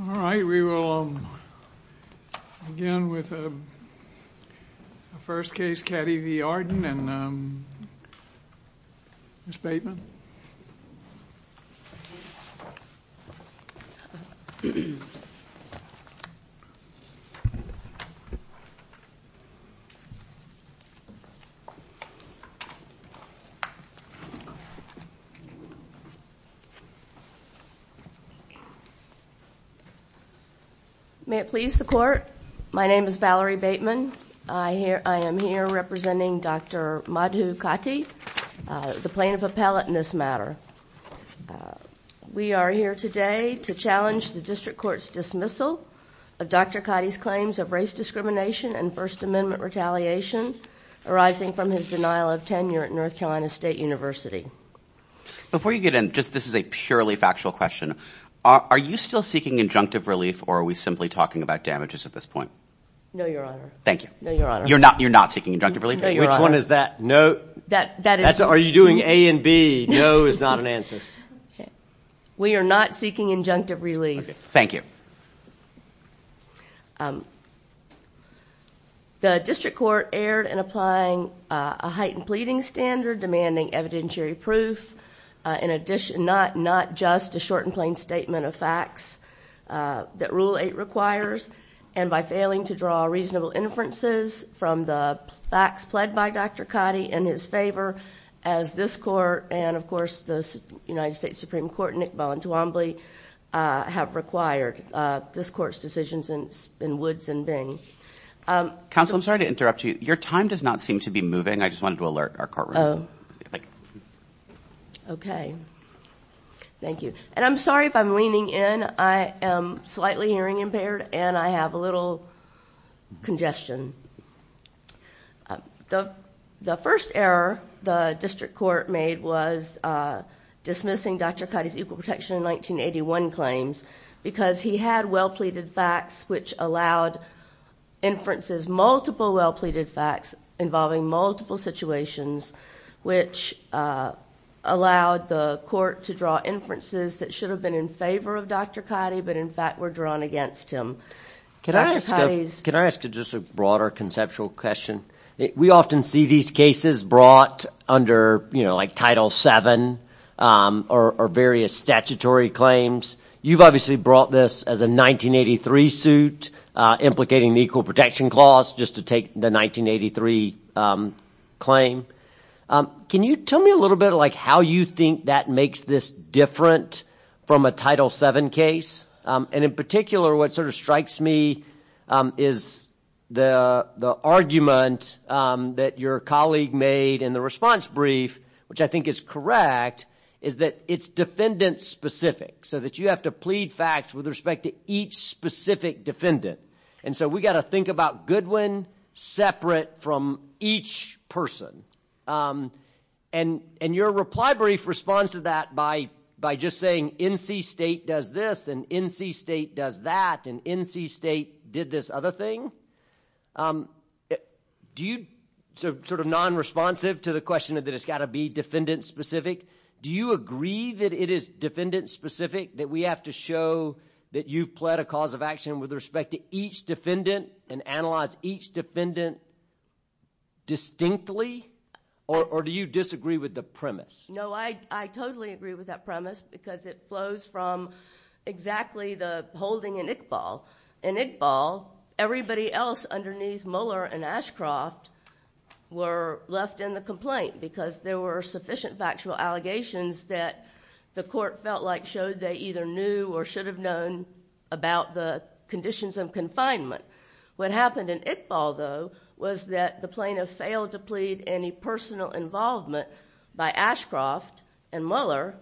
All right, we will begin with the first case, Katti v. Arden and Ms. Bateman. May it please the court, my name is Valerie Bateman. I am here representing Dr. Madhusudan Katti, the plaintiff appellate in this matter. We are here today to challenge the district court's dismissal of Dr. Katti's claims of race discrimination and First Amendment retaliation arising from his denial of tenure at North Carolina State University. Before you get in, just this is a purely factual question. Are you still seeking injunctive relief or are we simply talking about damages at this point? No, your honor. Thank you. No, your honor. You're not seeking injunctive relief? No, your honor. Which one is that? Are you doing A and B? No is not an answer. We are not seeking injunctive relief. Thank you. The district court erred in applying a heightened pleading standard demanding evidentiary proof. In addition, not just a short and plain statement of facts that Rule 8 requires, and by failing to draw reasonable inferences from the facts pled by Dr. Katti in his favor as this court and of course the United States Supreme Court, Nixball and Twombly, have required this court's decisions in woods and bing. Counsel, I'm sorry to interrupt you. Your time does not seem to be moving. I just wanted to alert our courtroom. Okay. Thank you. And I'm sorry if I'm leaning in. I am slightly hearing impaired and I have a little congestion. The first error the district court made was dismissing Dr. Katti's equal protection in 1981 claims because he had well pleaded facts which allowed inferences multiple well pleaded facts involving multiple situations which allowed the court to draw inferences that should have been in favor of Dr. Katti but in fact were drawn against him. Can I ask you just a broader conceptual question? We often see these cases brought under, you know, like Title 7 or various statutory claims. You've obviously brought this as a 1983 suit implicating the equal protection clause just to take the 1983 claim. Can you tell me a little bit like how you think that makes this different from a Title 7 case? And in particular what sort of strikes me is the the argument that your colleague made in the response brief which I think is correct is that it's defendant specific so that you have to plead facts with respect to each specific defendant. And so we got to think about Goodwin separate from each person. And your reply brief responds to that by just saying NC State does this and NC State does that and NC State did this other thing. Do you, sort of non-responsive to the question that it's got to be defendant specific, do you agree that it is defendant specific that we have to show that you've pled a cause of action with respect to each defendant and analyze each defendant distinctly or do you disagree with the premise? No, I totally agree with that premise because it flows from exactly the holding in Iqbal. In Iqbal, everybody else underneath Mueller and Ashcroft were left in the complaint because there were sufficient factual allegations that the court felt like showed they either knew or should have known about the conditions of confinement. What happened in Iqbal though was that the plaintiff failed to plead any personal involvement by Ashcroft and Mueller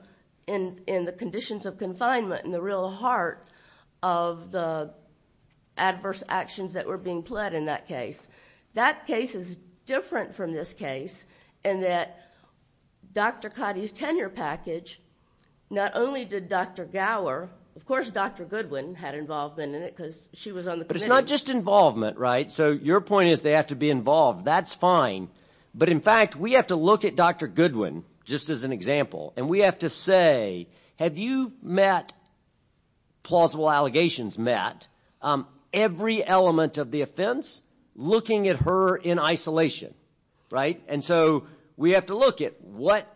in the conditions of confinement in the real heart of the adverse actions that were being pled in that case. That case is different from this case in that Dr. Cotty's tenure package, not only did Dr. Gower, of course Dr. Goodwin had involvement in it because she was on the committee. But it's not just involvement, right? So your point is they have to be involved, that's fine, but in fact we have to look at Dr. Goodwin just as an example and we have to say have you met, plausible allegations met, every element of the offense looking at her in isolation, right? And so we have to look at what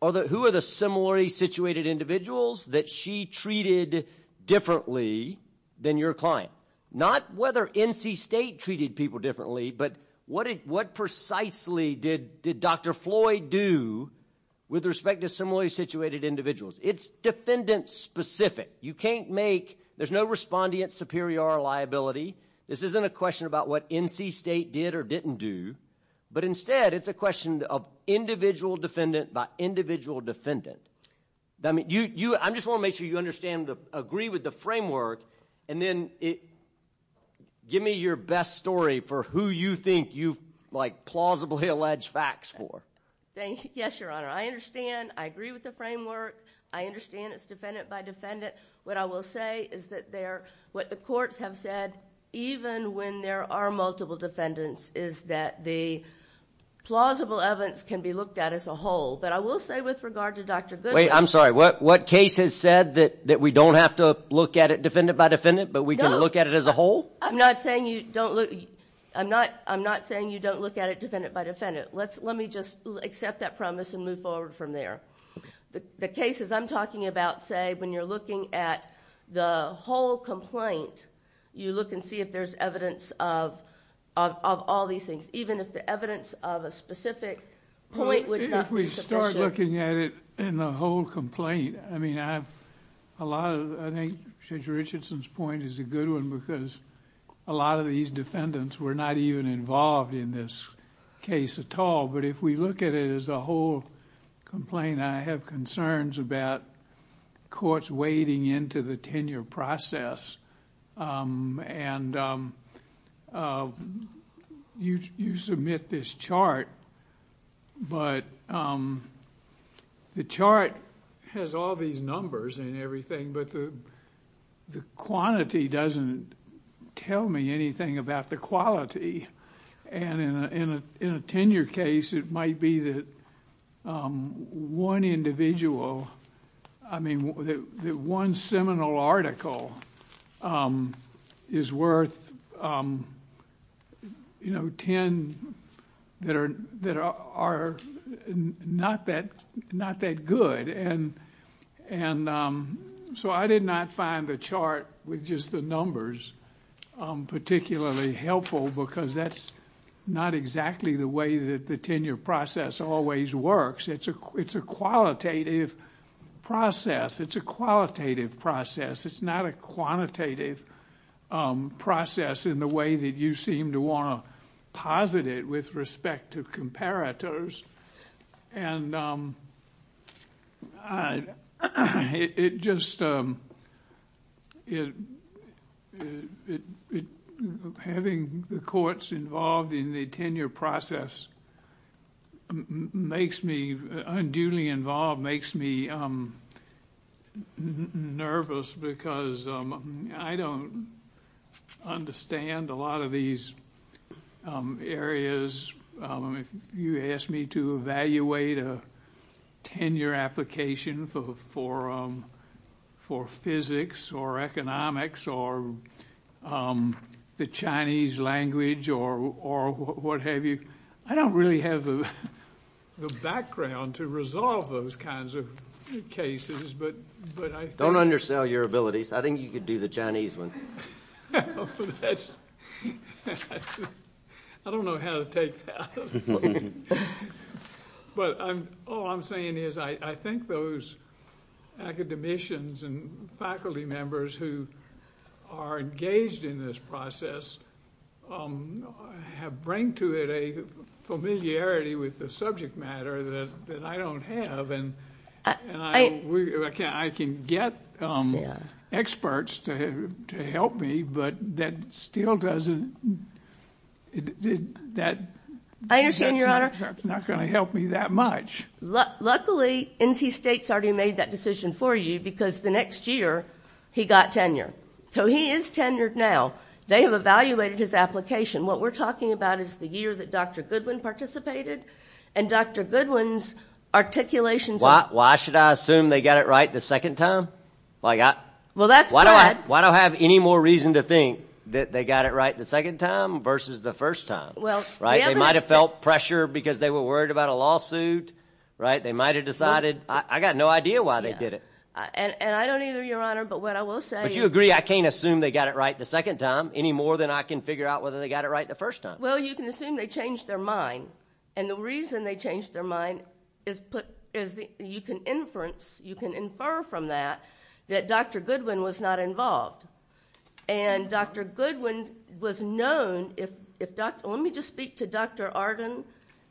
other, who are the similarly situated individuals that she treated differently than your client. Not whether NC State treated people differently, but what precisely did Dr. Floyd do with respect to similarly situated individuals? It's defendant-specific. You can't make, there's no respondent superior liability. This isn't a question about what NC State did or didn't do, but instead it's a question of individual defendant by individual defendant. I just want to make sure you understand, agree with the framework and then give me your best story for who you think you've like plausibly alleged facts for. Yes, your honor. I understand, I agree with the framework, I understand it's defendant by defendant. What I will say is that what the courts have said, even when there are multiple defendants, is that the plausible evidence can be looked at as a whole. But I will say with regard to Dr. Goodwin. Wait, I'm sorry, what case has said that we don't have to look at it defendant by defendant, but we can look at it as a whole? I'm not saying you don't look, I'm not saying you don't look at it defendant by defendant. Let me just accept that promise and move forward from there. The cases I'm talking about, say, when you're looking at the whole complaint, you look and see if there's evidence of all these things. Even if the evidence of a specific point would not be sufficient. If we start looking at it in the whole complaint, I mean, I have a lot of, I think Judge Richardson's point is a good one because a lot of these defendants were not even involved in this case at all. But if we look at it as a whole complaint, I have concerns about courts wading into the tenure process. And you submit this chart, but the chart has all these numbers and everything, but the quantity doesn't tell me anything about the quality. And in a tenure case, it might be that one individual, I mean, that one seminal article is worth, you know, ten that are not that good. And so I did not find the chart with just the numbers particularly helpful because that's not exactly the way that the tenure process always works. It's a qualitative process. It's a qualitative process. It's not a quantitative process in the way that you seem to want to posit it with respect to comparators. And it just, having the courts involved in the tenure process makes me, unduly involved, makes me nervous because I don't understand a lot of these areas. If you ask me to evaluate a tenure application for physics or economics or the Chinese language or what have you, I don't really have the background to resolve those kinds of cases, but... All I'm saying is, I think those academicians and faculty members who are engaged in this process have bring to it a familiarity with the subject matter that I don't have. I can get experts to help me, but that still doesn't... Luckily, NC State's already made that decision for you because the next year he got tenure. So he is tenured now. They have evaluated his application. What we're talking about is the year that Dr. Goodwin participated and Dr. Goodwin's articulations... Why should I assume they got it right the second time? Well, that's bad. Why do I have any more reason to think that they got it right the second time versus the first time? Well, they haven't... They might have decided... I've got no idea why they did it. I don't either, Your Honor, but what I will say is... But you agree I can't assume they got it right the second time any more than I can figure out whether they got it right the first time. Well, you can assume they changed their mind. The reason they changed their mind is you can infer from that that Dr. Goodwin was not involved. Dr. Goodwin was known... Let me just speak to Dr. Arden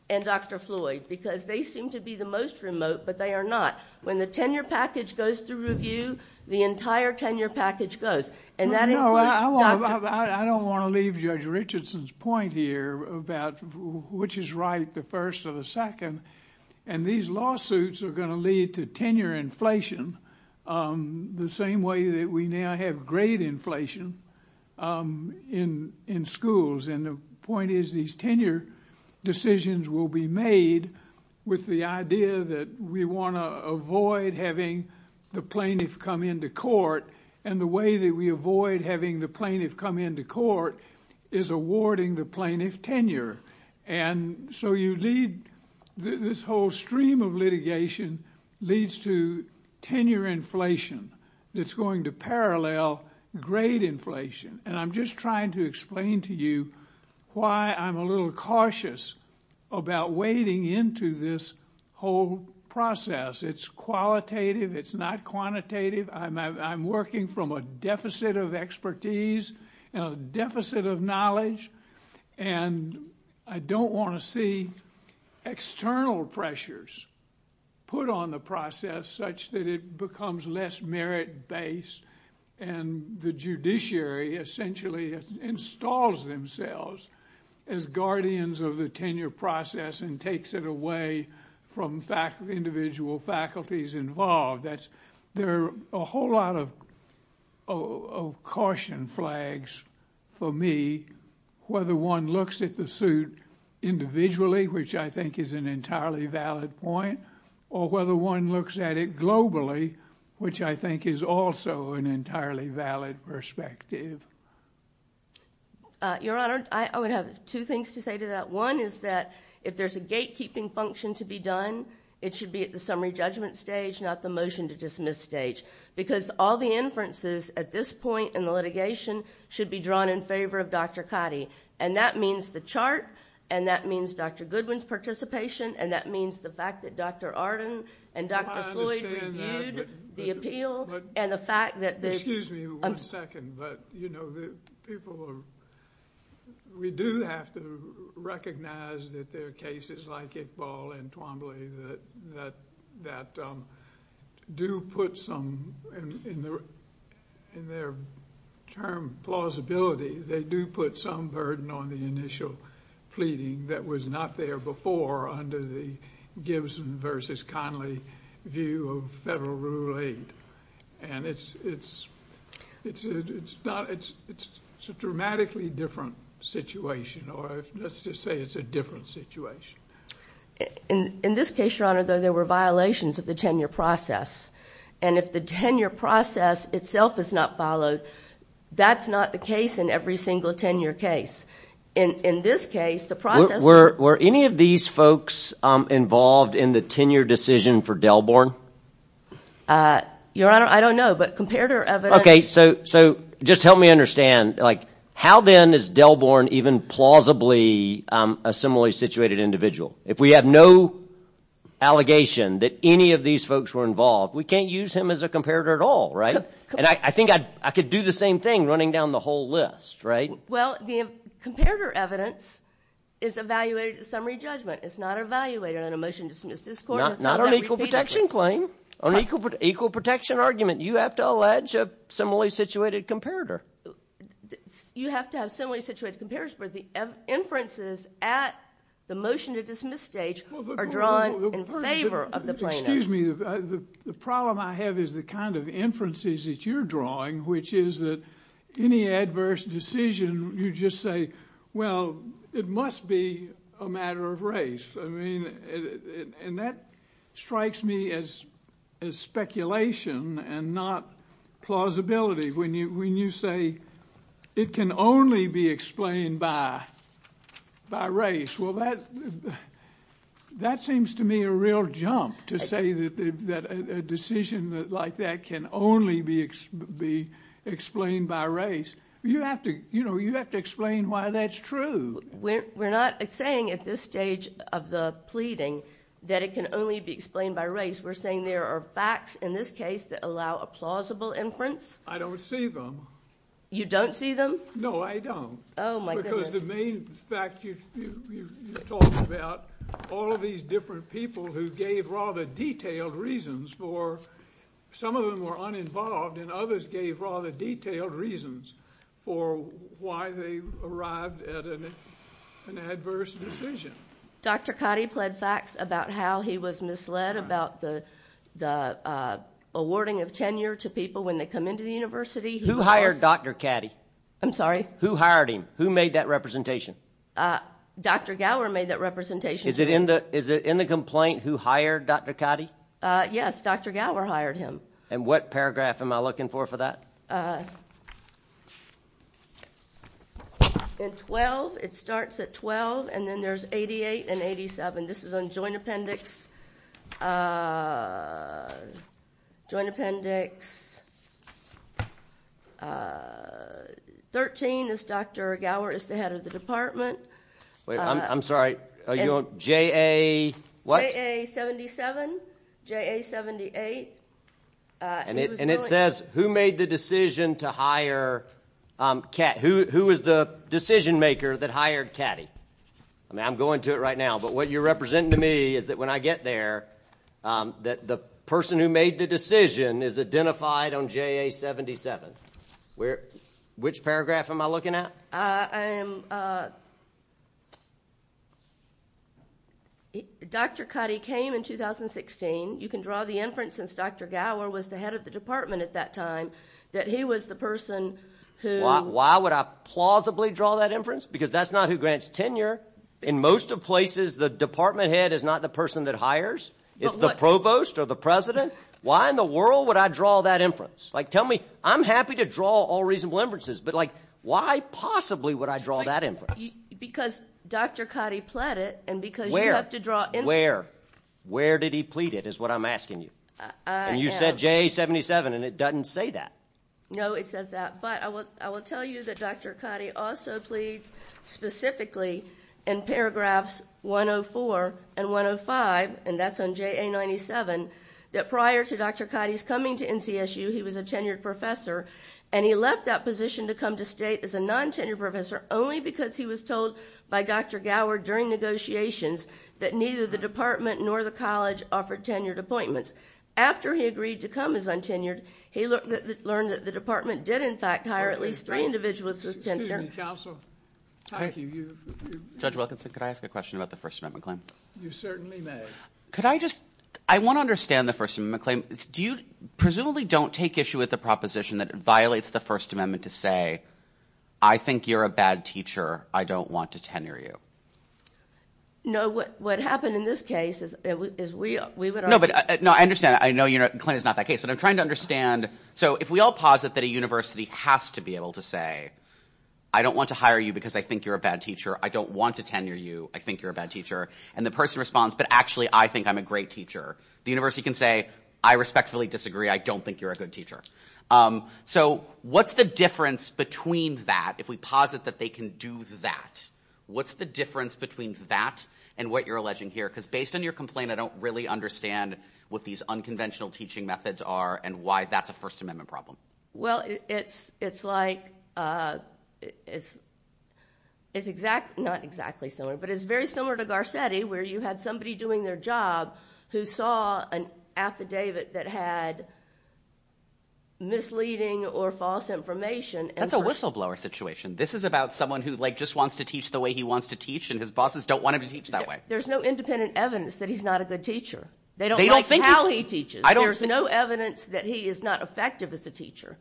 and Dr. Floyd because they seem to be the most remote, but they are not. When the tenure package goes through review, the entire tenure package goes. No, I don't want to leave Judge Richardson's point here about which is right, the first or the second. These lawsuits are going to lead to tenure inflation the same way that we now have grade inflation in schools. And the point is these tenure decisions will be made with the idea that we want to avoid having the plaintiff come into court. And the way that we avoid having the plaintiff come into court is awarding the plaintiff tenure. And so you lead... this whole stream of litigation leads to tenure inflation that's going to parallel grade inflation. And I'm just trying to explain to you why I'm a little cautious about wading into this whole process. It's qualitative. It's not quantitative. I'm working from a deficit of expertise and a deficit of knowledge. And I don't want to see external pressures put on the process such that it becomes less merit-based and the judiciary essentially installs themselves as guardians of the tenure process and takes it away from individual faculties involved. There are a whole lot of caution flags for me, whether one looks at the suit individually, which I think is an entirely valid point, or whether one looks at it globally, which I think is also an entirely valid perspective. Your Honor, I would have two things to say to that. One is that if there's a gatekeeping function to be done, it should be at the summary judgment stage, not the motion to dismiss stage. Because all the inferences at this point in the litigation should be drawn in favor of Dr. Cottee. And that means the chart, and that means Dr. Goodwin's participation, and that means the fact that Dr. Arden and Dr. Floyd reviewed the appeal and the fact that... recognize that there are cases like Iqbal and Twombly that do put some, in their term, plausibility, they do put some burden on the initial pleading that was not there before under the Gibson v. Conley view of federal rule 8. And it's a dramatically different situation, or let's just say it's a different situation. In this case, Your Honor, though, there were violations of the tenure process. And if the tenure process itself is not followed, that's not the case in every single tenure case. In this case, the process... Were any of these folks involved in the tenure decision for Delborn? Your Honor, I don't know, but comparator evidence... Okay, so just help me understand, like, how then is Delborn even plausibly a similarly situated individual? If we have no allegation that any of these folks were involved, we can't use him as a comparator at all, right? And I think I could do the same thing running down the whole list, right? Well, the comparator evidence is evaluated at summary judgment. It's not evaluated in a motion to dismiss this court. Not on equal protection claim. On equal protection argument, you have to allege a similarly situated comparator. You have to have similarly situated comparators, but the inferences at the motion to dismiss stage are drawn in favor of the plaintiff. Excuse me, the problem I have is the kind of inferences that you're drawing, which is that any adverse decision, you just say, well, it must be a matter of race. I mean, and that strikes me as speculation and not plausibility. When you say it can only be explained by race, well, that seems to me a real jump to say that a decision like that can only be explained by race. You have to explain why that's true. We're not saying at this stage of the pleading that it can only be explained by race. We're saying there are facts in this case that allow a plausible inference. I don't see them. You don't see them? No, I don't. Oh, my goodness. In fact, you talk about all of these different people who gave rather detailed reasons for, some of them were uninvolved, and others gave rather detailed reasons for why they arrived at an adverse decision. Dr. Cotty pled facts about how he was misled about the awarding of tenure to people when they come into the university. Who hired Dr. Cotty? I'm sorry? Who hired him? Who made that representation? Dr. Gower made that representation. Is it in the complaint who hired Dr. Cotty? Yes, Dr. Gower hired him. And what paragraph am I looking for for that? In 12, it starts at 12, and then there's 88 and 87. This is on joint appendix 13 is Dr. Gower is the head of the department. I'm sorry. JA what? JA 77, JA 78. And it says who made the decision to hire Catty? Who was the decision maker that hired Catty? I'm going to it right now, but what you're representing to me is that when I get there, that the person who made the decision is identified on JA 77. Which paragraph am I looking at? I am. Dr. Cotty came in 2016. You can draw the inference since Dr. Gower was the head of the department at that time that he was the person who. Why would I plausibly draw that inference? Because that's not who grants tenure. In most of places, the department head is not the person that hires. It's the provost or the president. Why in the world would I draw that inference? I'm happy to draw all reasonable inferences, but why possibly would I draw that inference? Because Dr. Cotty pled it and because you have to draw inference. Where? Where? Where did he plead it is what I'm asking you. And you said JA 77 and it doesn't say that. No, it says that. But I will tell you that Dr. Cotty also pleads specifically in paragraphs 104 and 105, and that's on JA 97, that prior to Dr. Cotty's coming to NCSU, he was a tenured professor. And he left that position to come to state as a non-tenured professor only because he was told by Dr. Gower during negotiations that neither the department nor the college offered tenured appointments. After he agreed to come as untenured, he learned that the department did, in fact, hire at least three individuals as tenured. Excuse me, counsel. Judge Wilkinson, could I ask a question about the First Amendment claim? You certainly may. Could I just – I want to understand the First Amendment claim. Do you presumably don't take issue with the proposition that it violates the First Amendment to say I think you're a bad teacher, I don't want to tenure you? No, what happened in this case is we would argue – No, I understand. I know the claim is not that case. But I'm trying to understand – so if we all posit that a university has to be able to say I don't want to hire you because I think you're a bad teacher, I don't want to tenure you, I think you're a bad teacher, and the person responds but actually I think I'm a great teacher, the university can say I respectfully disagree, I don't think you're a good teacher. So what's the difference between that if we posit that they can do that? What's the difference between that and what you're alleging here? Because based on your complaint, I don't really understand what these unconventional teaching methods are and why that's a First Amendment problem. Well, it's like – it's not exactly similar but it's very similar to Garcetti where you had somebody doing their job who saw an affidavit that had misleading or false information. That's a whistleblower situation. This is about someone who just wants to teach the way he wants to teach and his bosses don't want him to teach that way. There's no independent evidence that he's not a good teacher. They don't like how he teaches. There's no evidence that he is not effective as a teacher.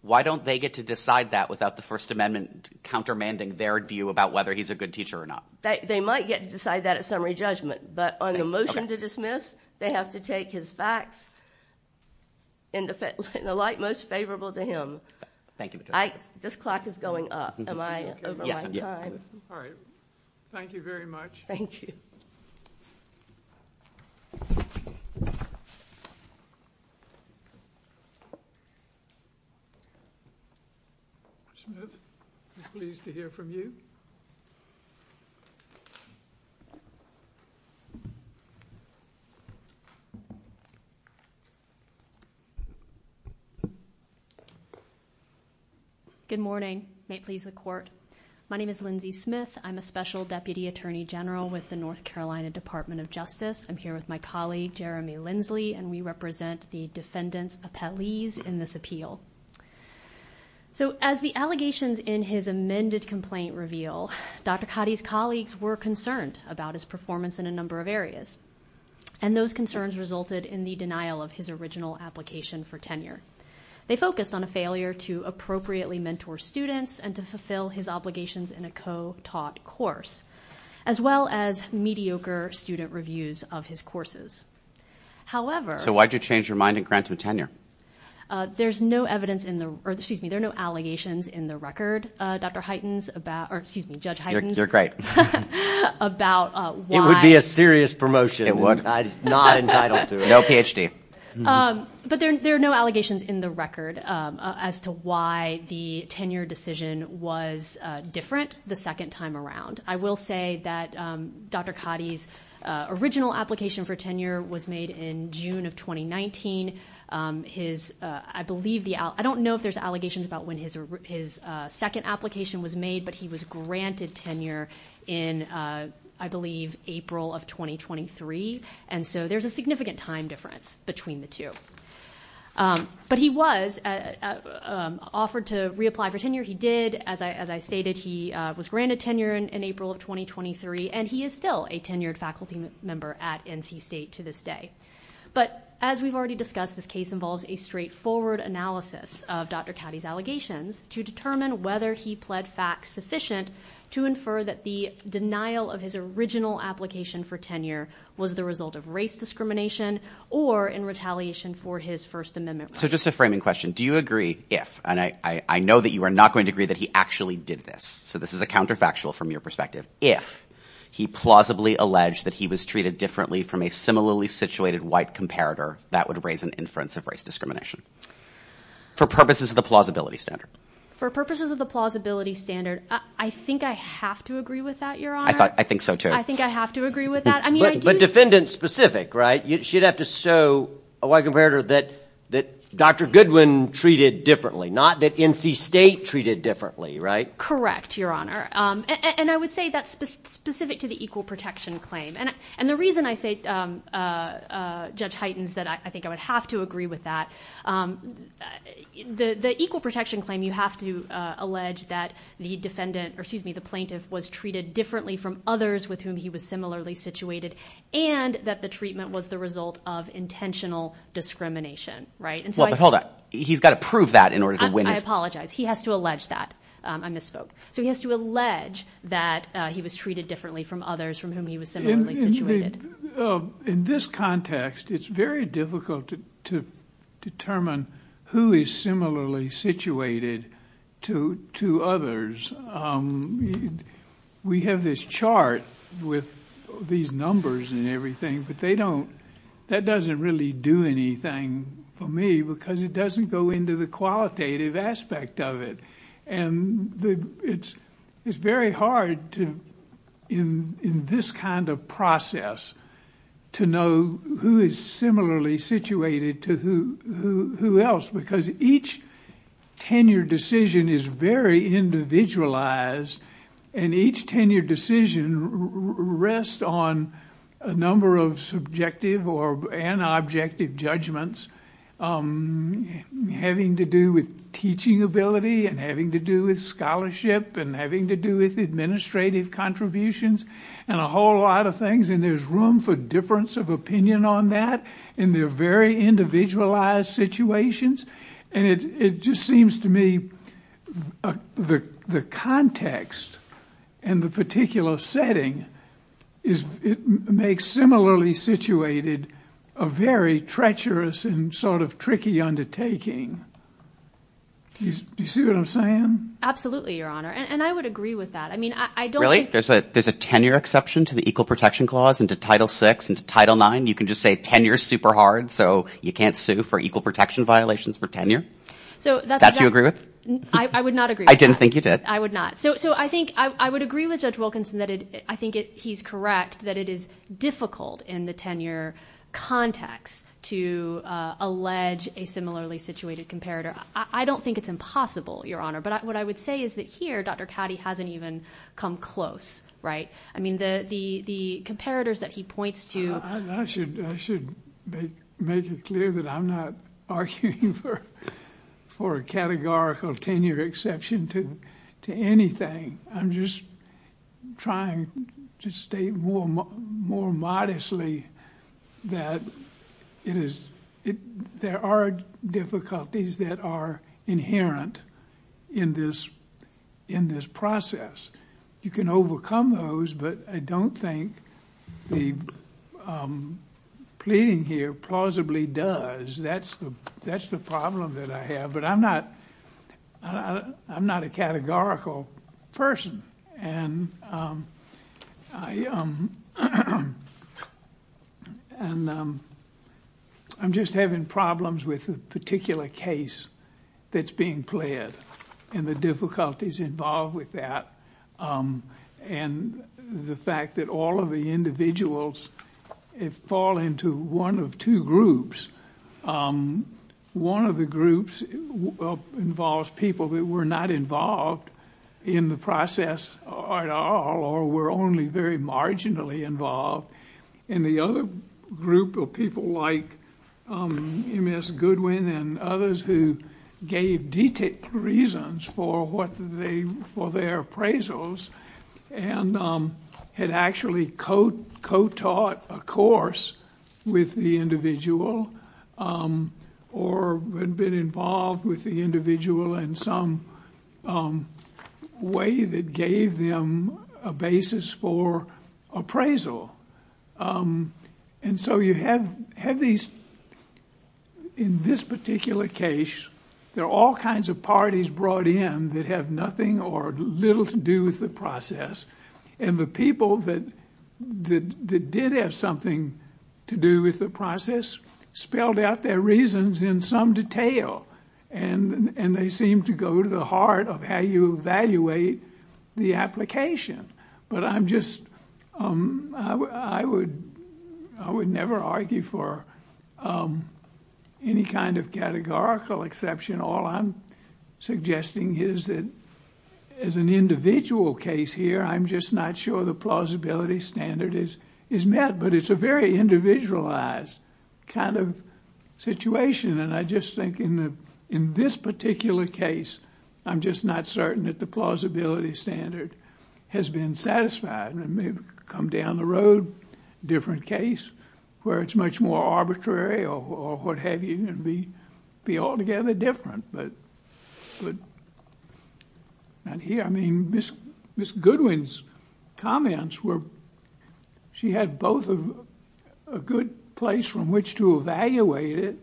Why don't they get to decide that without the First Amendment countermanding their view about whether he's a good teacher or not? They might get to decide that at summary judgment, but on the motion to dismiss, they have to take his facts in the light most favorable to him. Thank you. This clock is going up. Am I over my time? Yes. Thank you very much. Thank you. Smith, pleased to hear from you. Good morning. May it please the Court. My name is Lindsay Smith. I'm a Special Deputy Attorney General with the North Carolina Department of Justice. I'm here with my colleague, Jeremy Lindsley, and we represent the defendants' appellees in this appeal. So as the allegations in his amended complaint reveal, Dr. Cotty's colleagues were concerned about his performance in a number of areas, and those concerns resulted in the denial of his original application for tenure. They focused on a failure to appropriately mentor students and to fulfill his obligations in a co-taught course, as well as mediocre student reviews of his courses. However – So why did you change your mind and grant him tenure? There's no evidence in the – or excuse me, there are no allegations in the record, Dr. Hytens, about – or excuse me, Judge Hytens. You're great. About why – It would be a serious promotion. It would. I'm not entitled to it. No PhD. But there are no allegations in the record as to why the tenure decision was different the second time around. I will say that Dr. Cotty's original application for tenure was made in June of 2019. His – I believe the – I don't know if there's allegations about when his second application was made, but he was granted tenure in, I believe, April of 2023, and so there's a significant time difference between the two. But he was offered to reapply for tenure. He did. As I stated, he was granted tenure in April of 2023, and he is still a tenured faculty member at NC State to this day. But as we've already discussed, this case involves a straightforward analysis of Dr. Cotty's allegations to determine whether he pled fact sufficient to infer that the denial of his original application for tenure was the result of race discrimination or in retaliation for his First Amendment rights. So just a framing question. Do you agree if – and I know that you are not going to agree that he actually did this, so this is a counterfactual from your perspective – if he plausibly alleged that he was treated differently from a similarly situated white comparator, that would raise an inference of race discrimination for purposes of the plausibility standard? For purposes of the plausibility standard, I think I have to agree with that, Your Honor. I think so, too. I think I have to agree with that. But defendant-specific, right? You should have to show a white comparator that Dr. Goodwin treated differently, not that NC State treated differently, right? Correct, Your Honor. And I would say that's specific to the equal protection claim. And the reason I say, Judge Heitens, that I think I would have to agree with that, the equal protection claim you have to allege that the defendant – or excuse me, the plaintiff was treated differently from others with whom he was similarly situated and that the treatment was the result of intentional discrimination, right? Well, but hold on. He's got to prove that in order to win. I apologize. He has to allege that. I misspoke. So he has to allege that he was treated differently from others from whom he was similarly situated. In this context, it's very difficult to determine who is similarly situated to others. We have this chart with these numbers and everything, but they don't – that doesn't really do anything for me because it doesn't go into the qualitative aspect of it. And it's very hard in this kind of process to know who is similarly situated to who else because each tenure decision is very individualized, and each tenure decision rests on a number of subjective and objective judgments having to do with teaching ability and having to do with scholarship and having to do with administrative contributions and a whole lot of things. And there's room for difference of opinion on that, and they're very individualized situations. And it just seems to me the context in the particular setting is – a very treacherous and sort of tricky undertaking. Do you see what I'm saying? Absolutely, Your Honor, and I would agree with that. I mean, I don't think – There's a tenure exception to the Equal Protection Clause into Title VI and to Title IX? You can just say tenure is super hard, so you can't sue for equal protection violations for tenure? So that's – That's what you agree with? I would not agree with that. I didn't think you did. I would not. So I think I would agree with Judge Wilkinson that I think he's correct, that it is difficult in the tenure context to allege a similarly situated comparator. I don't think it's impossible, Your Honor, but what I would say is that here Dr. Cady hasn't even come close, right? I mean, the comparators that he points to – I should make it clear that I'm not arguing for a categorical tenure exception to anything. I'm just trying to state more modestly that it is – there are difficulties that are inherent in this process. You can overcome those, but I don't think the pleading here plausibly does. That's the problem that I have. But I'm not a categorical person, and I'm just having problems with the particular case that's being pled and the difficulties involved with that and the fact that all of the individuals fall into one of two groups. One of the groups involves people that were not involved in the process at all or were only very marginally involved, and the other group of people like Ms. Goodwin and others who gave detailed reasons for their appraisals and had actually co-taught a course with the individual or had been involved with the individual in some way that gave them a basis for appraisal. And so you have these – in this particular case, there are all kinds of parties brought in that have nothing or little to do with the process, and the people that did have something to do with the process spelled out their reasons in some detail, and they seem to go to the heart of how you evaluate the application. But I'm just – I would never argue for any kind of categorical exception. All I'm suggesting is that as an individual case here, I'm just not sure the plausibility standard is met, but it's a very individualized kind of situation, and I just think in this particular case, I'm just not certain that the plausibility standard has been satisfied. It may come down the road, different case, where it's much more arbitrary or what have you, and be altogether different, but not here. I mean, Ms. Goodwin's comments were – she had both a good place from which to evaluate it,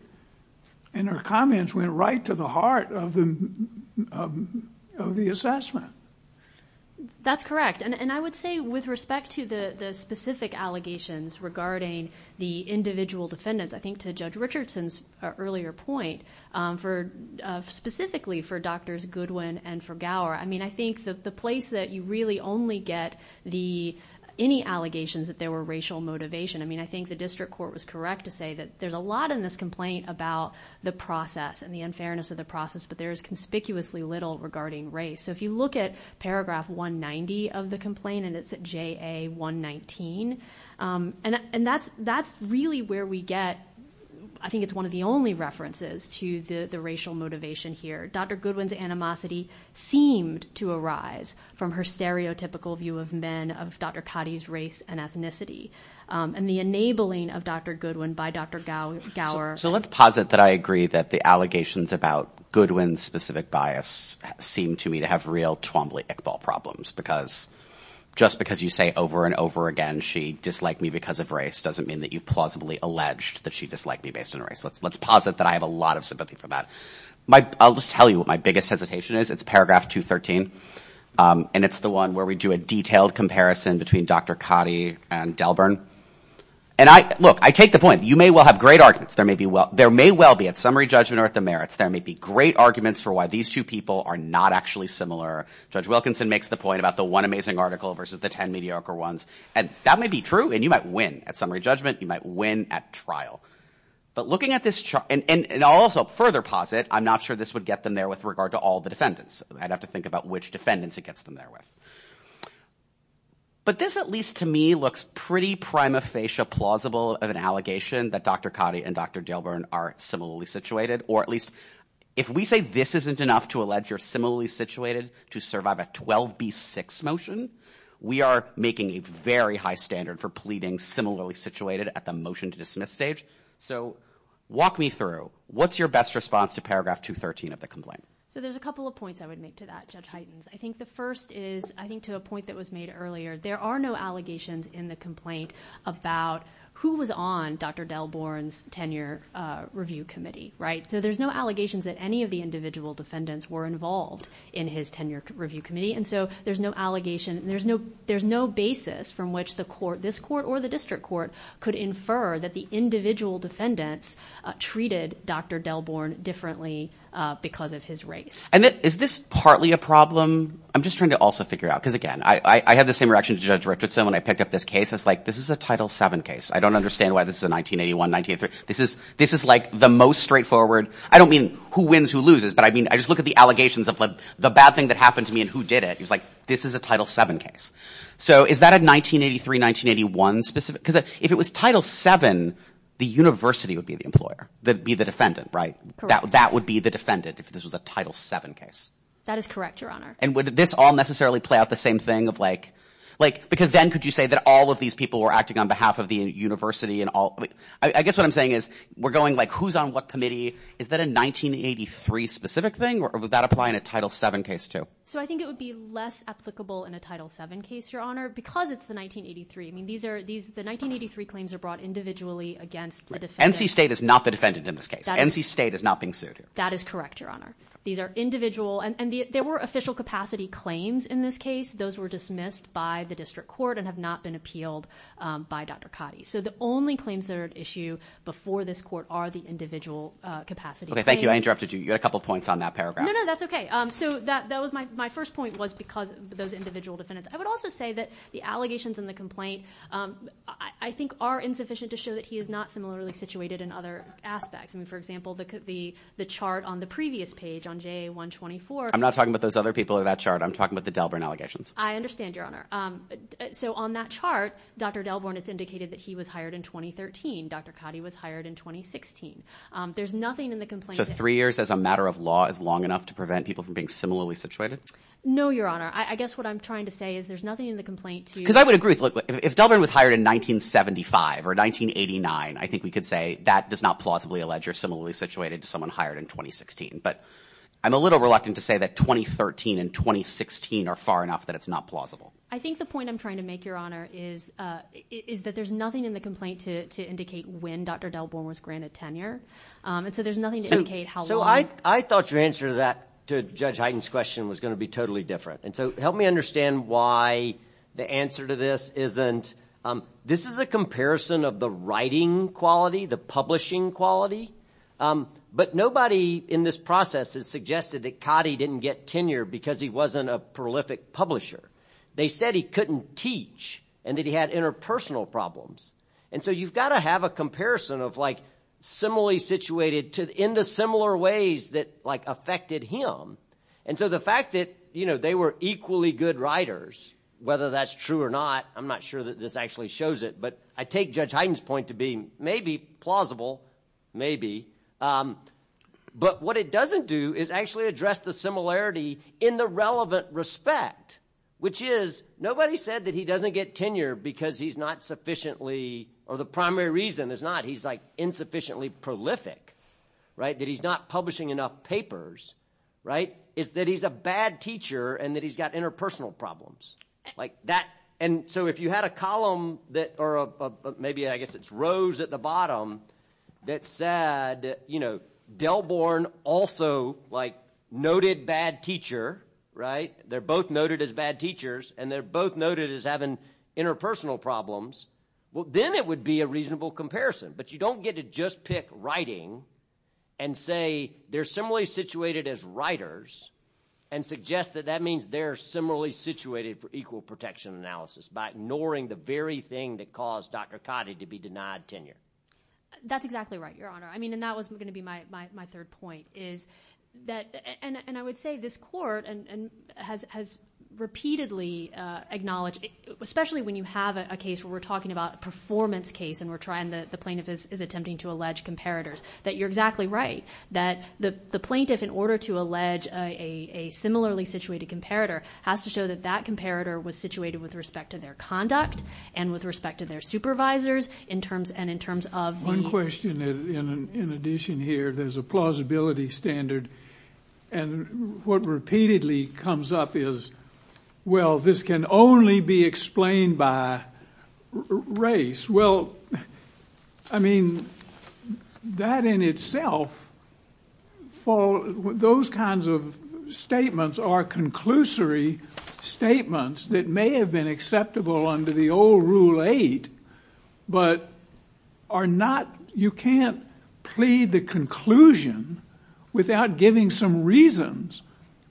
and her comments went right to the heart of the assessment. That's correct, and I would say with respect to the specific allegations regarding the individual defendants, I think to Judge Richardson's earlier point, specifically for Drs. Goodwin and for Gower, I mean, I think the place that you really only get the – any allegations that there were racial motivation, I mean, I think the district court was correct to say that there's a lot in this complaint about the process and the unfairness of the process, but there is conspicuously little regarding race. So if you look at paragraph 190 of the complaint, and it's JA119, and that's really where we get – I think it's one of the only references to the racial motivation here. Dr. Goodwin's animosity seemed to arise from her stereotypical view of men, of Dr. Cotty's race and ethnicity, and the enabling of Dr. Goodwin by Dr. Gower. So let's posit that I agree that the allegations about Goodwin's specific bias seem to me to have real Twombly Iqbal problems, because just because you say over and over again she disliked me because of race doesn't mean that you plausibly alleged that she disliked me based on race. Let's posit that I have a lot of sympathy for that. I'll just tell you what my biggest hesitation is. It's paragraph 213, and it's the one where we do a detailed comparison between Dr. Cotty and Delburn. And, look, I take the point. You may well have great arguments. There may well be at summary judgment or at the merits, there may be great arguments for why these two people are not actually similar. Judge Wilkinson makes the point about the one amazing article versus the ten mediocre ones, and that may be true, and you might win at summary judgment. You might win at trial. But looking at this chart, and I'll also further posit I'm not sure this would get them there with regard to all the defendants. I'd have to think about which defendants it gets them there with. But this, at least to me, looks pretty prima facie plausible of an allegation that Dr. Cotty and Dr. Delburn are similarly situated, or at least if we say this isn't enough to allege you're similarly situated to survive a 12B6 motion, we are making a very high standard for pleading similarly situated at the motion to dismiss stage. So walk me through. What's your best response to paragraph 213 of the complaint? So there's a couple of points I would make to that, Judge Hytens. I think the first is, I think to a point that was made earlier, there are no allegations in the complaint about who was on Dr. Delburn's tenure review committee, right? So there's no allegations that any of the individual defendants were involved in his tenure review committee. And so there's no allegation. There's no basis from which this court or the district court could infer that the individual defendants treated Dr. Delburn differently because of his race. And is this partly a problem? I'm just trying to also figure out, because again, I had the same reaction to Judge Richardson when I picked up this case. I was like, this is a Title VII case. I don't understand why this is a 1981, 1983. This is the most straightforward. I don't mean who wins, who loses. But I just look at the allegations of the bad thing that happened to me and who did it. It was like, this is a Title VII case. So is that a 1983, 1981 specific? Because if it was Title VII, the university would be the employer, be the defendant, right? That would be the defendant if this was a Title VII case. That is correct, Your Honor. And would this all necessarily play out the same thing of like – because then could you say that all of these people were acting on behalf of the university and all – I guess what I'm saying is we're going like who's on what committee. Is that a 1983 specific thing? Or would that apply in a Title VII case too? So I think it would be less applicable in a Title VII case, Your Honor, because it's the 1983. I mean, these are – the 1983 claims are brought individually against the defendant. NC State is not the defendant in this case. NC State is not being sued. That is correct, Your Honor. These are individual – and there were official capacity claims in this case. Those were dismissed by the district court and have not been appealed by Dr. Cotty. So the only claims that are at issue before this court are the individual capacity claims. Okay, thank you. I interrupted you. You had a couple points on that paragraph. No, no, that's okay. So that was – my first point was because those individual defendants – I would also say that the allegations in the complaint I think are insufficient to show that he is not similarly situated in other aspects. I mean, for example, the chart on the previous page on JA-124 – I'm not talking about those other people in that chart. I'm talking about the Delborn allegations. I understand, Your Honor. So on that chart, Dr. Delborn, it's indicated that he was hired in 2013. Dr. Cotty was hired in 2016. There's nothing in the complaint – So three years as a matter of law is long enough to prevent people from being similarly situated? No, Your Honor. I guess what I'm trying to say is there's nothing in the complaint to – Because I would agree. Look, if Delborn was hired in 1975 or 1989, I think we could say that does not plausibly allege you're similarly situated to someone hired in 2016. But I'm a little reluctant to say that 2013 and 2016 are far enough that it's not plausible. I think the point I'm trying to make, Your Honor, is that there's nothing in the complaint to indicate when Dr. Delborn was granted tenure. And so there's nothing to indicate how long – So I thought your answer to that – to Judge Hyten's question was going to be totally different. And so help me understand why the answer to this isn't – This is a comparison of the writing quality, the publishing quality. But nobody in this process has suggested that Cotty didn't get tenure because he wasn't a prolific publisher. They said he couldn't teach and that he had interpersonal problems. And so you've got to have a comparison of similarly situated in the similar ways that affected him. And so the fact that they were equally good writers, whether that's true or not – I'm not sure that this actually shows it, but I take Judge Hyten's point to be maybe plausible, maybe. But what it doesn't do is actually address the similarity in the relevant respect, which is nobody said that he doesn't get tenure because he's not sufficiently – or the primary reason is not he's insufficiently prolific, that he's not publishing enough papers. It's that he's a bad teacher and that he's got interpersonal problems. And so if you had a column that – or maybe, I guess, it's rows at the bottom that said, you know, Delborn also, like, noted bad teacher, right? They're both noted as bad teachers, and they're both noted as having interpersonal problems. Well, then it would be a reasonable comparison. But you don't get to just pick writing and say they're similarly situated as writers and suggest that that means they're similarly situated for equal protection analysis by ignoring the very thing that caused Dr. Cotty to be denied tenure. That's exactly right, Your Honor. I mean, and that was going to be my third point is that – and I would say this court has repeatedly acknowledged, especially when you have a case where we're talking about a performance case and the plaintiff is attempting to allege comparators, that you're exactly right, that the plaintiff, in order to allege a similarly situated comparator, has to show that that comparator was situated with respect to their conduct and with respect to their supervisors and in terms of the... One question in addition here. There's a plausibility standard, and what repeatedly comes up is, well, this can only be explained by race. Well, I mean, that in itself, those kinds of statements are conclusory statements that may have been acceptable under the old Rule 8, but are not... You can't plead the conclusion without giving some reasons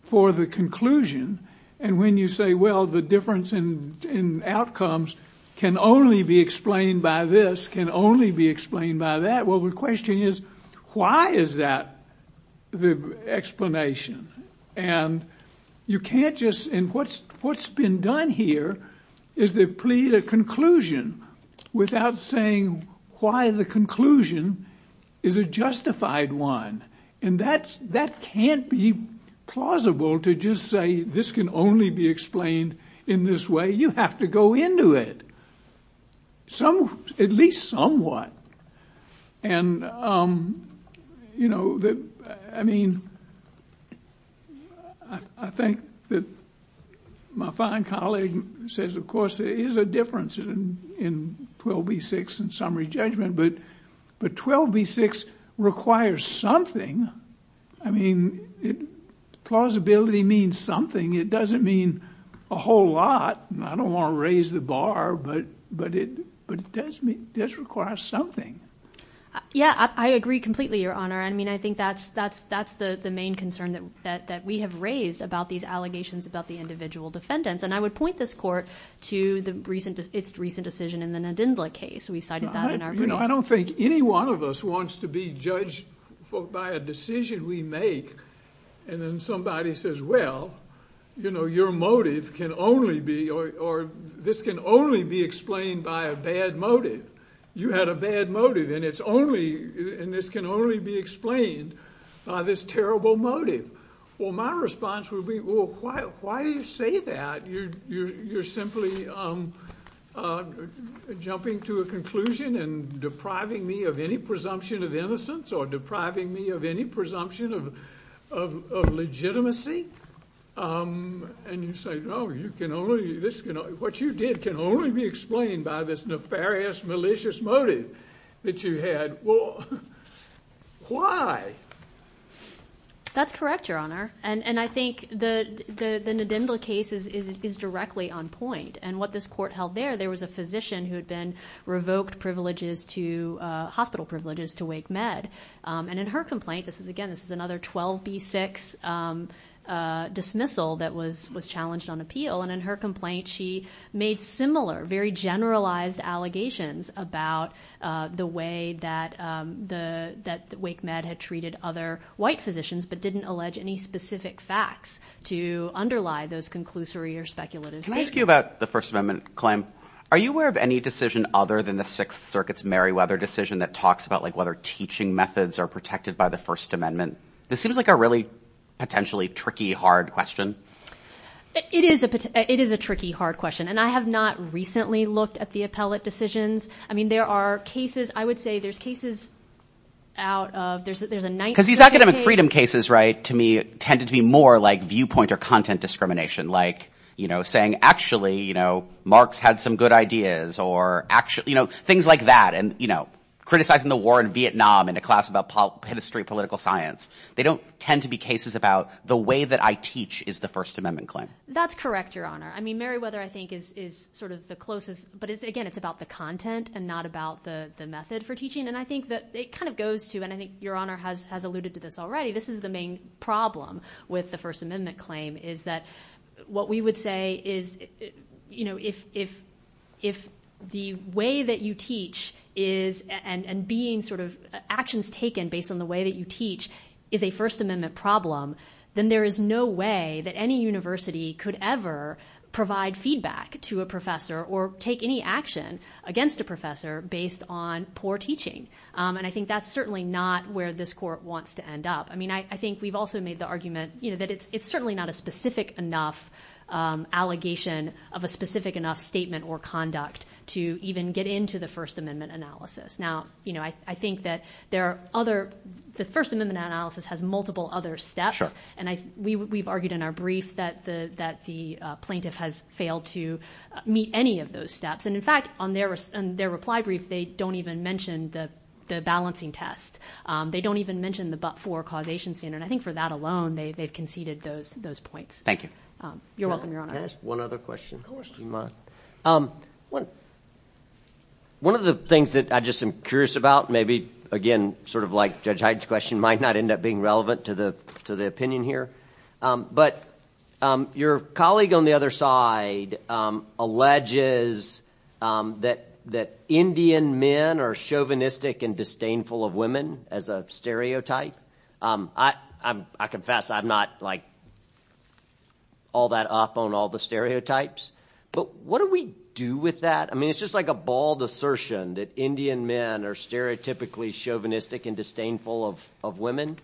for the conclusion. And when you say, well, the difference in outcomes can only be explained by this, can only be explained by that, well, the question is, why is that the explanation? And you can't just... And what's been done here is to plead a conclusion without saying why the conclusion is a justified one. And that can't be plausible to just say this can only be explained in this way. You have to go into it, at least somewhat. And, you know, I mean... I think that my fine colleague says, of course, there is a difference in 12b-6 and summary judgment, but 12b-6 requires something. I mean, plausibility means something. It doesn't mean a whole lot. I don't want to raise the bar, but it does require something. Yeah, I agree completely, Your Honor. I mean, I think that's the main concern that we have raised about these allegations about the individual defendants, and I would point this court to its recent decision in the Nadindla case. We cited that in our brief. You know, I don't think any one of us wants to be judged by a decision we make, and then somebody says, well, you know, your motive can only be... or this can only be explained by a bad motive. You had a bad motive, and it's only... and this can only be explained by this terrible motive. Well, my response would be, well, why do you say that? You're simply jumping to a conclusion and depriving me of any presumption of innocence or depriving me of any presumption of legitimacy? And you say, no, you can only... what you did can only be explained by this nefarious, malicious motive that you had. Well, why? That's correct, Your Honor, and I think the Nadindla case is directly on point, and what this court held there, there was a physician who had been revoked hospital privileges to Wake Med, and in her complaint, this is, again, this is another 12b-6 dismissal that was challenged on appeal, and in her complaint, she made similar, very generalized allegations about the way that Wake Med had treated other white physicians but didn't allege any specific facts to underlie those conclusory or speculative statements. Can I ask you about the First Amendment claim? Are you aware of any decision other than the Sixth Circuit's Meriwether decision that talks about, like, whether teaching methods are protected by the First Amendment? This seems like a really potentially tricky, hard question. It is a tricky, hard question, and I have not recently looked at the appellate decisions. I mean, there are cases... I would say there's cases out of... Because these academic freedom cases, right, to me, tended to be more like viewpoint or content discrimination, like, you know, saying, actually, you know, Marx had some good ideas, or, you know, things like that, and, you know, criticizing the war in Vietnam in a class about history and political science. They don't tend to be cases about the way that I teach is the First Amendment claim. That's correct, Your Honor. I mean, Meriwether, I think, is sort of the closest... But, again, it's about the content and not about the method for teaching, and I think that it kind of goes to, and I think Your Honor has alluded to this already, this is the main problem with the First Amendment claim, is that what we would say is, you know, if the way that you teach is... and being sort of actions taken based on the way that you teach is a First Amendment problem, then there is no way that any university could ever provide feedback to a professor or take any action against a professor based on poor teaching. And I think that's certainly not where this Court wants to end up. I mean, I think we've also made the argument, you know, that it's certainly not a specific enough allegation of a specific enough statement or conduct to even get into the First Amendment analysis. Now, you know, I think that there are other... The First Amendment analysis has multiple other steps, and we've argued in our brief that the plaintiff has failed to meet any of those steps. And, in fact, on their reply brief, they don't even mention the balancing test. They don't even mention the but-for causation standard. I think for that alone, they've conceded those points. Thank you. You're welcome, Your Honor. Can I ask one other question, if you mind? One of the things that I just am curious about, maybe, again, sort of like Judge Hyde's question, might not end up being relevant to the opinion here, but your colleague on the other side alleges that Indian men are chauvinistic and disdainful of women as a stereotype. I confess I'm not, like, all that up on all the stereotypes, but what do we do with that? I mean, it's just like a bald assertion that Indian men are stereotypically chauvinistic and disdainful of women.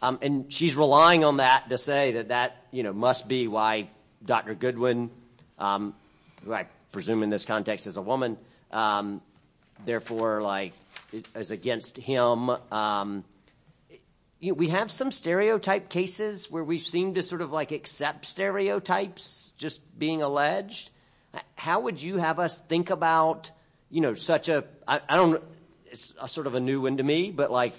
And she's relying on that to say that that, you know, must be why Dr. Goodwin, who I presume in this context is a woman, therefore, like, is against him. We have some stereotype cases where we seem to sort of, like, accept stereotypes just being alleged. How would you have us think about, you know, such a... I don't know. It's sort of a new one to me, but, like,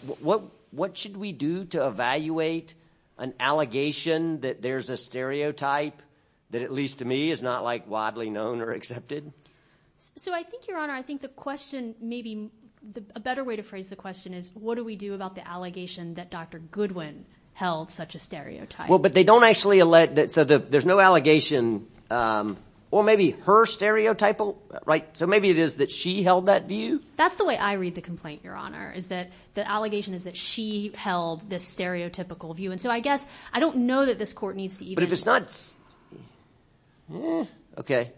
what should we do to evaluate an allegation that there's a stereotype that, at least to me, is not, like, widely known or accepted? So I think, Your Honor, I think the question maybe... A better way to phrase the question is, what do we do about the allegation that Dr. Goodwin held such a stereotype? Well, but they don't actually allege... So there's no allegation... Well, maybe her stereotypal, right? So maybe it is that she held that view? That's the way I read the complaint, Your Honor, is that the allegation is that she held this stereotypical view. And so I guess I don't know that this court needs to even... But if it's not... Eh, okay.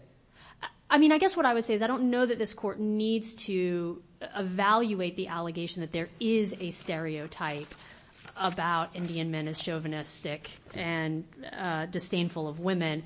I mean, I guess what I would say is I don't know that this court needs to evaluate the allegation that there is a stereotype about Indian men as chauvinistic and disdainful of women.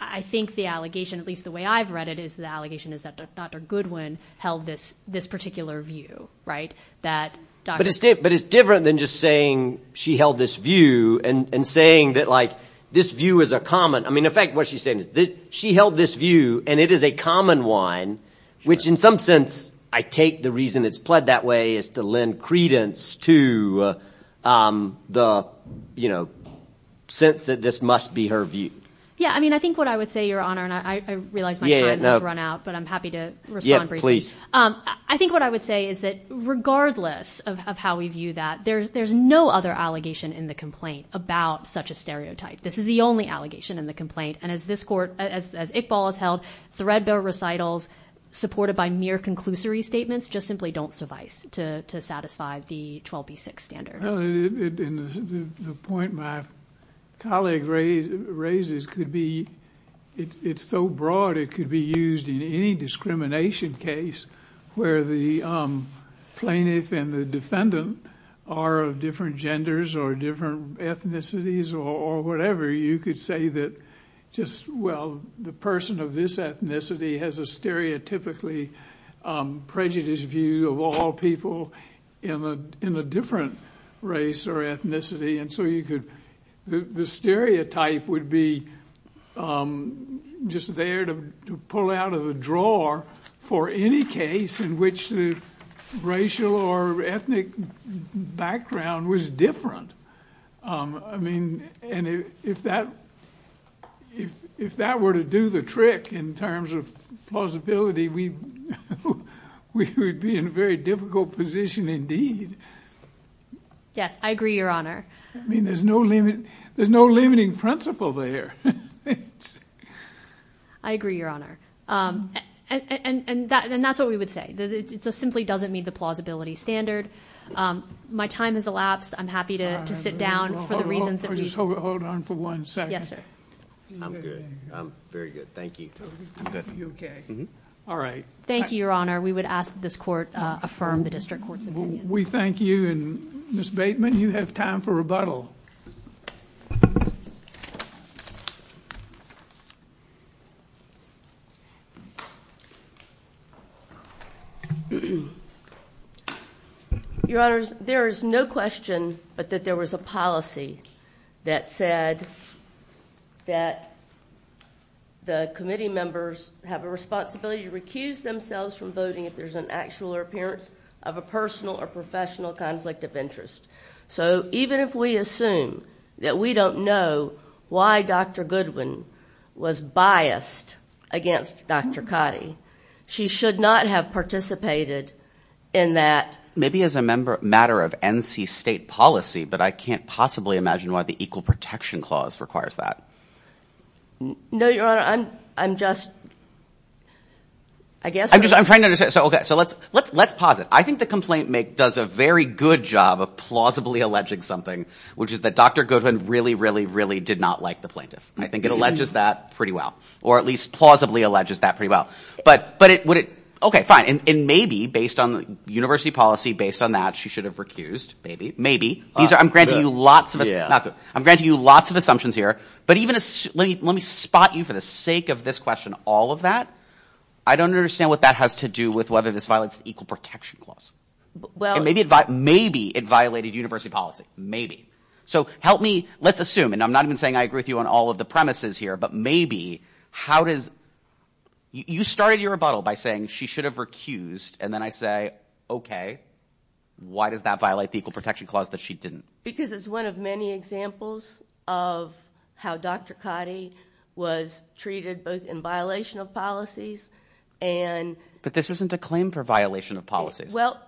I think the allegation, at least the way I've read it, is the allegation is that Dr. Goodwin held this particular view, right? But it's different than just saying she held this view and saying that, like, this view is a common... I mean, in fact, what she's saying is she held this view and it is a common one, which, in some sense, I take the reason it's pled that way is to lend credence to the, you know, sense that this must be her view. Yeah, I mean, I think what I would say, Your Honor, and I realize my time has run out, but I'm happy to respond briefly. I think what I would say is that regardless of how we view that, there's no other allegation in the complaint about such a stereotype. This is the only allegation in the complaint, and as this court, as Iqbal has held, threadbare recitals supported by mere conclusory statements just simply don't suffice to satisfy the 12b-6 standard. Well, and the point my colleague raises could be it's so broad it could be used in any discrimination case where the plaintiff and the defendant are of different genders or different ethnicities or whatever, you could say that just, well, the person of this ethnicity has a stereotypically prejudiced view of all people in a different race or ethnicity, and so the stereotype would be just there to pull out of the drawer for any case in which the racial or ethnic background was different. I mean, and if that were to do the trick in terms of plausibility, we would be in a very difficult position indeed. Yes, I agree, Your Honor. I mean, there's no limiting principle there. I agree, Your Honor, and that's what we would say. It simply doesn't meet the plausibility standard. My time has elapsed. I'm happy to sit down for the reasons that we... Hold on for one second. Yes, sir. I'm good. I'm very good. Thank you. Are you okay? All right. Thank you, Your Honor. We would ask that this court affirm the district court's opinion. We thank you, and Ms. Bateman, you have time for rebuttal. Your Honor, there is no question but that there was a policy that said that the committee members have a responsibility to recuse themselves from voting if there's an actual appearance of a personal or professional conflict of interest. So even if we assume that we don't know why Dr. Goodwin was biased against Dr. Khadi, she should not have participated in that. Maybe as a matter of NC State policy, but I can't possibly imagine why the Equal Protection Clause requires that. No, Your Honor. I'm just... I guess... I'm trying to understand. So let's pause it. I think the complaint make does a very good job of plausibly alleging something, which is that Dr. Goodwin really, really, really did not like the plaintiff. I think it alleges that pretty well, or at least plausibly alleges that pretty well. But would it... Okay, fine. And maybe based on the university policy, based on that, she should have recused. Maybe. Maybe. I'm granting you lots of... Not good. I'm granting you lots of assumptions here. But even... Let me spot you for the sake of this question, all of that. I don't understand what that has to do with whether this violates the Equal Protection Clause. Maybe it violated university policy. Maybe. So help me... Let's assume, and I'm not even saying I agree with you on all of the premises here, but maybe... How does... You started your rebuttal by saying she should have recused, and then I say, okay. Why does that violate the Equal Protection Clause that she didn't? Because it's one of many examples of how Dr. Cotty was treated both in violation of policies and... But this isn't a claim for violation of policies. Well,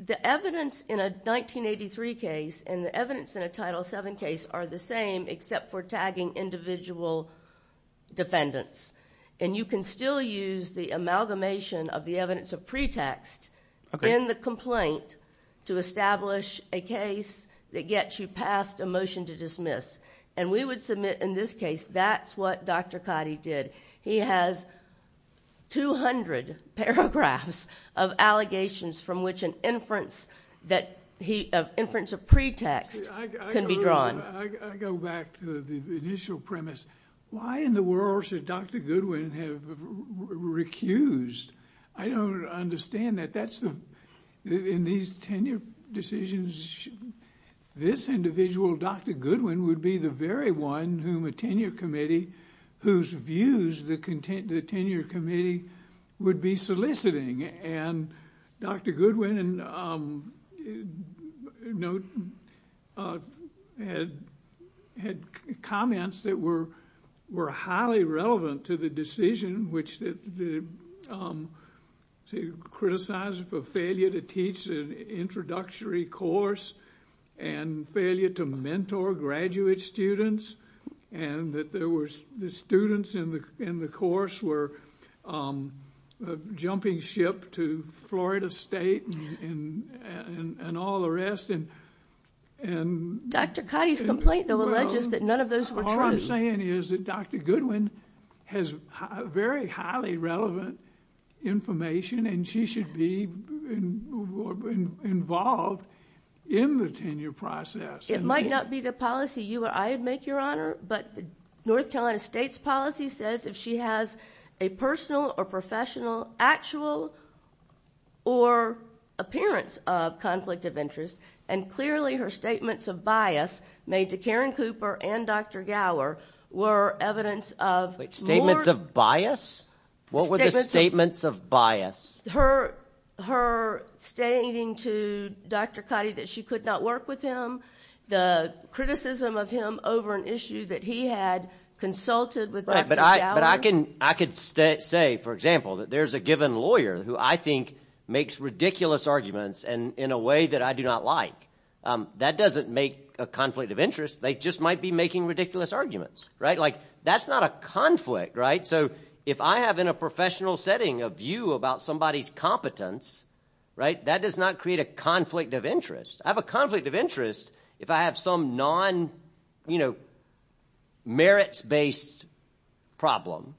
the evidence in a 1983 case and the evidence in a Title VII case are the same except for tagging individual defendants. And you can still use the amalgamation of the evidence of pretext in the complaint to establish a case that gets you past a motion to dismiss. And we would submit in this case that's what Dr. Cotty did. He has 200 paragraphs of allegations from which an inference of pretext can be drawn. I go back to the initial premise. Why in the world should Dr. Goodwin have recused? I don't understand that. In these tenure decisions, this individual, Dr. Goodwin, would be the very one whom a tenure committee, whose views the tenure committee would be soliciting. And Dr. Goodwin had comments that were highly relevant to the decision in which to criticize for failure to teach an introductory course and failure to mentor graduate students and that the students in the course were a jumping ship to Florida State and all the rest. Dr. Cotty's complaint, though, alleges that none of those were true. What you're saying is that Dr. Goodwin has very highly relevant information and she should be involved in the tenure process. It might not be the policy you or I would make, Your Honor, but North Carolina State's policy says if she has a personal or professional actual or appearance of conflict of interest, and clearly her statements of bias made to Karen Cooper and Dr. Gower were evidence of more... Wait, statements of bias? What were the statements of bias? Her stating to Dr. Cotty that she could not work with him, the criticism of him over an issue that he had consulted with Dr. Gower. But I can say, for example, that there's a given lawyer who I think makes ridiculous arguments in a way that I do not like. That doesn't make a conflict of interest. They just might be making ridiculous arguments. That's not a conflict. So if I have in a professional setting a view about somebody's competence, that does not create a conflict of interest. I have a conflict of interest if I have some non-merits-based problem.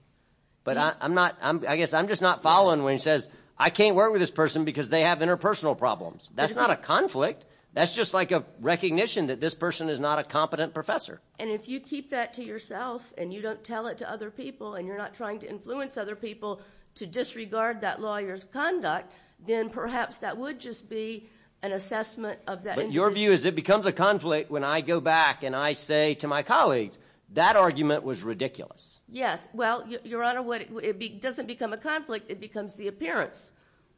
But I guess I'm just not following when he says, I can't work with this person because they have interpersonal problems. That's not a conflict. That's just like a recognition that this person is not a competent professor. And if you keep that to yourself and you don't tell it to other people and you're not trying to influence other people to disregard that lawyer's conduct, then perhaps that would just be an assessment of that individual. But your view is it becomes a conflict when I go back and I say to my colleagues, that argument was ridiculous. Yes. Well, Your Honor, it doesn't become a conflict. It becomes the appearance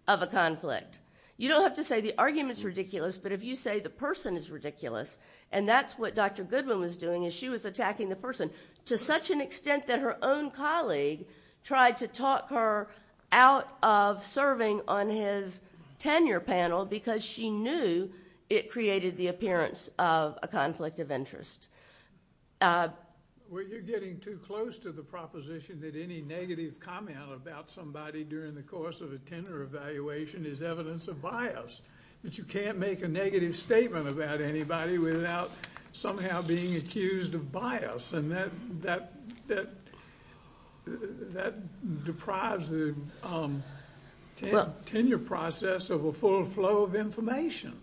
of a conflict. You don't have to say the argument is ridiculous, but if you say the person is ridiculous, and that's what Dr. Goodwin was doing is she was attacking the person to such an extent that her own colleague tried to talk her out of serving on his tenure panel because she knew it created the appearance of a conflict of interest. Well, you're getting too close to the proposition that any negative comment about somebody during the course of a tenure evaluation is evidence of bias, that you can't make a negative statement about anybody without somehow being accused of bias, and that deprives the tenure process of a full flow of information.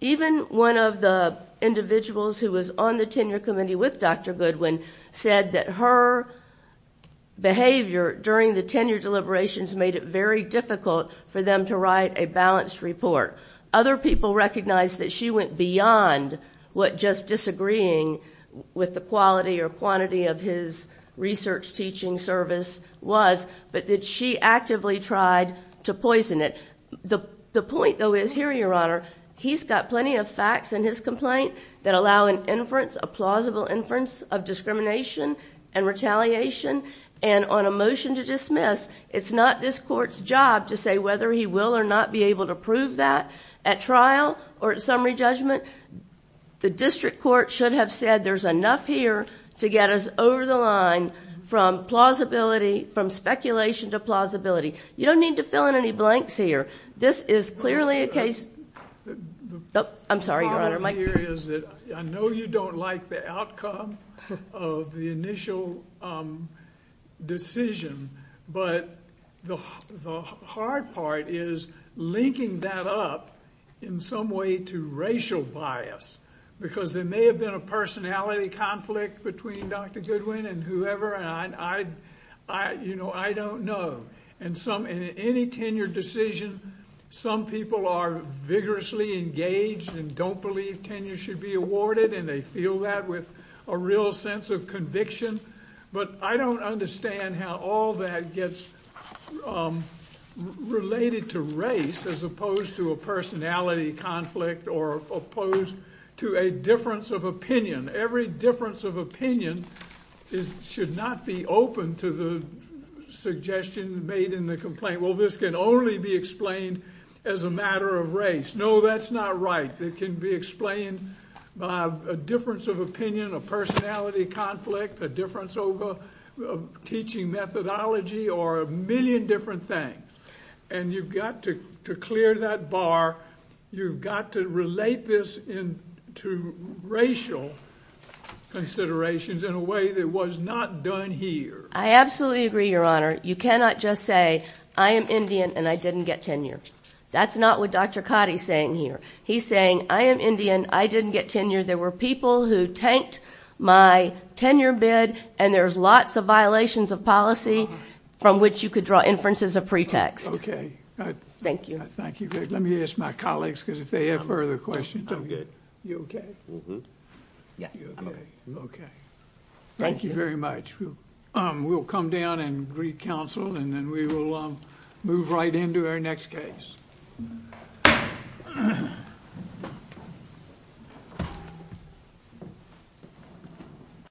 Even one of the individuals who was on the tenure committee with Dr. Goodwin said that her behavior during the tenure deliberations made it very difficult for them to write a balanced report. Other people recognized that she went beyond what just disagreeing with the quality or quantity of his research teaching service was, but that she actively tried to poison it. The point, though, is here, Your Honor, he's got plenty of facts in his complaint that allow an inference, a plausible inference of discrimination and retaliation, and on a motion to dismiss, it's not this Court's job to say whether he will or not be able to prove that. At trial or at summary judgment, the district court should have said there's enough here to get us over the line from speculation to plausibility. You don't need to fill in any blanks here. This is clearly a case... I'm sorry, Your Honor. I know you don't like the outcome of the initial decision, but the hard part is linking that up in some way to racial bias, because there may have been a personality conflict between Dr. Goodwin and whoever, and I don't know. In any tenure decision, some people are vigorously engaged and don't believe tenure should be awarded, and they feel that with a real sense of conviction, but I don't understand how all that gets related to race as opposed to a personality conflict or opposed to a difference of opinion. Every difference of opinion should not be open to the suggestion made in the complaint. Well, this can only be explained as a matter of race. No, that's not right. It can be explained by a difference of opinion, a personality conflict, a difference over teaching methodology, or a million different things, and you've got to clear that bar. You've got to relate this to racial considerations in a way that was not done here. I absolutely agree, Your Honor. You cannot just say, I am Indian and I didn't get tenure. That's not what Dr. Cotty is saying here. He's saying, I am Indian, I didn't get tenure. There were people who tanked my tenure bid, and there's lots of violations of policy from which you could draw inferences of pretext. Okay. Thank you. Thank you. Let me ask my colleagues, because if they have further questions. I'm good. You okay? Yes, I'm okay. Okay. Thank you very much. We'll come down and re-counsel, and then we will move right into our next case.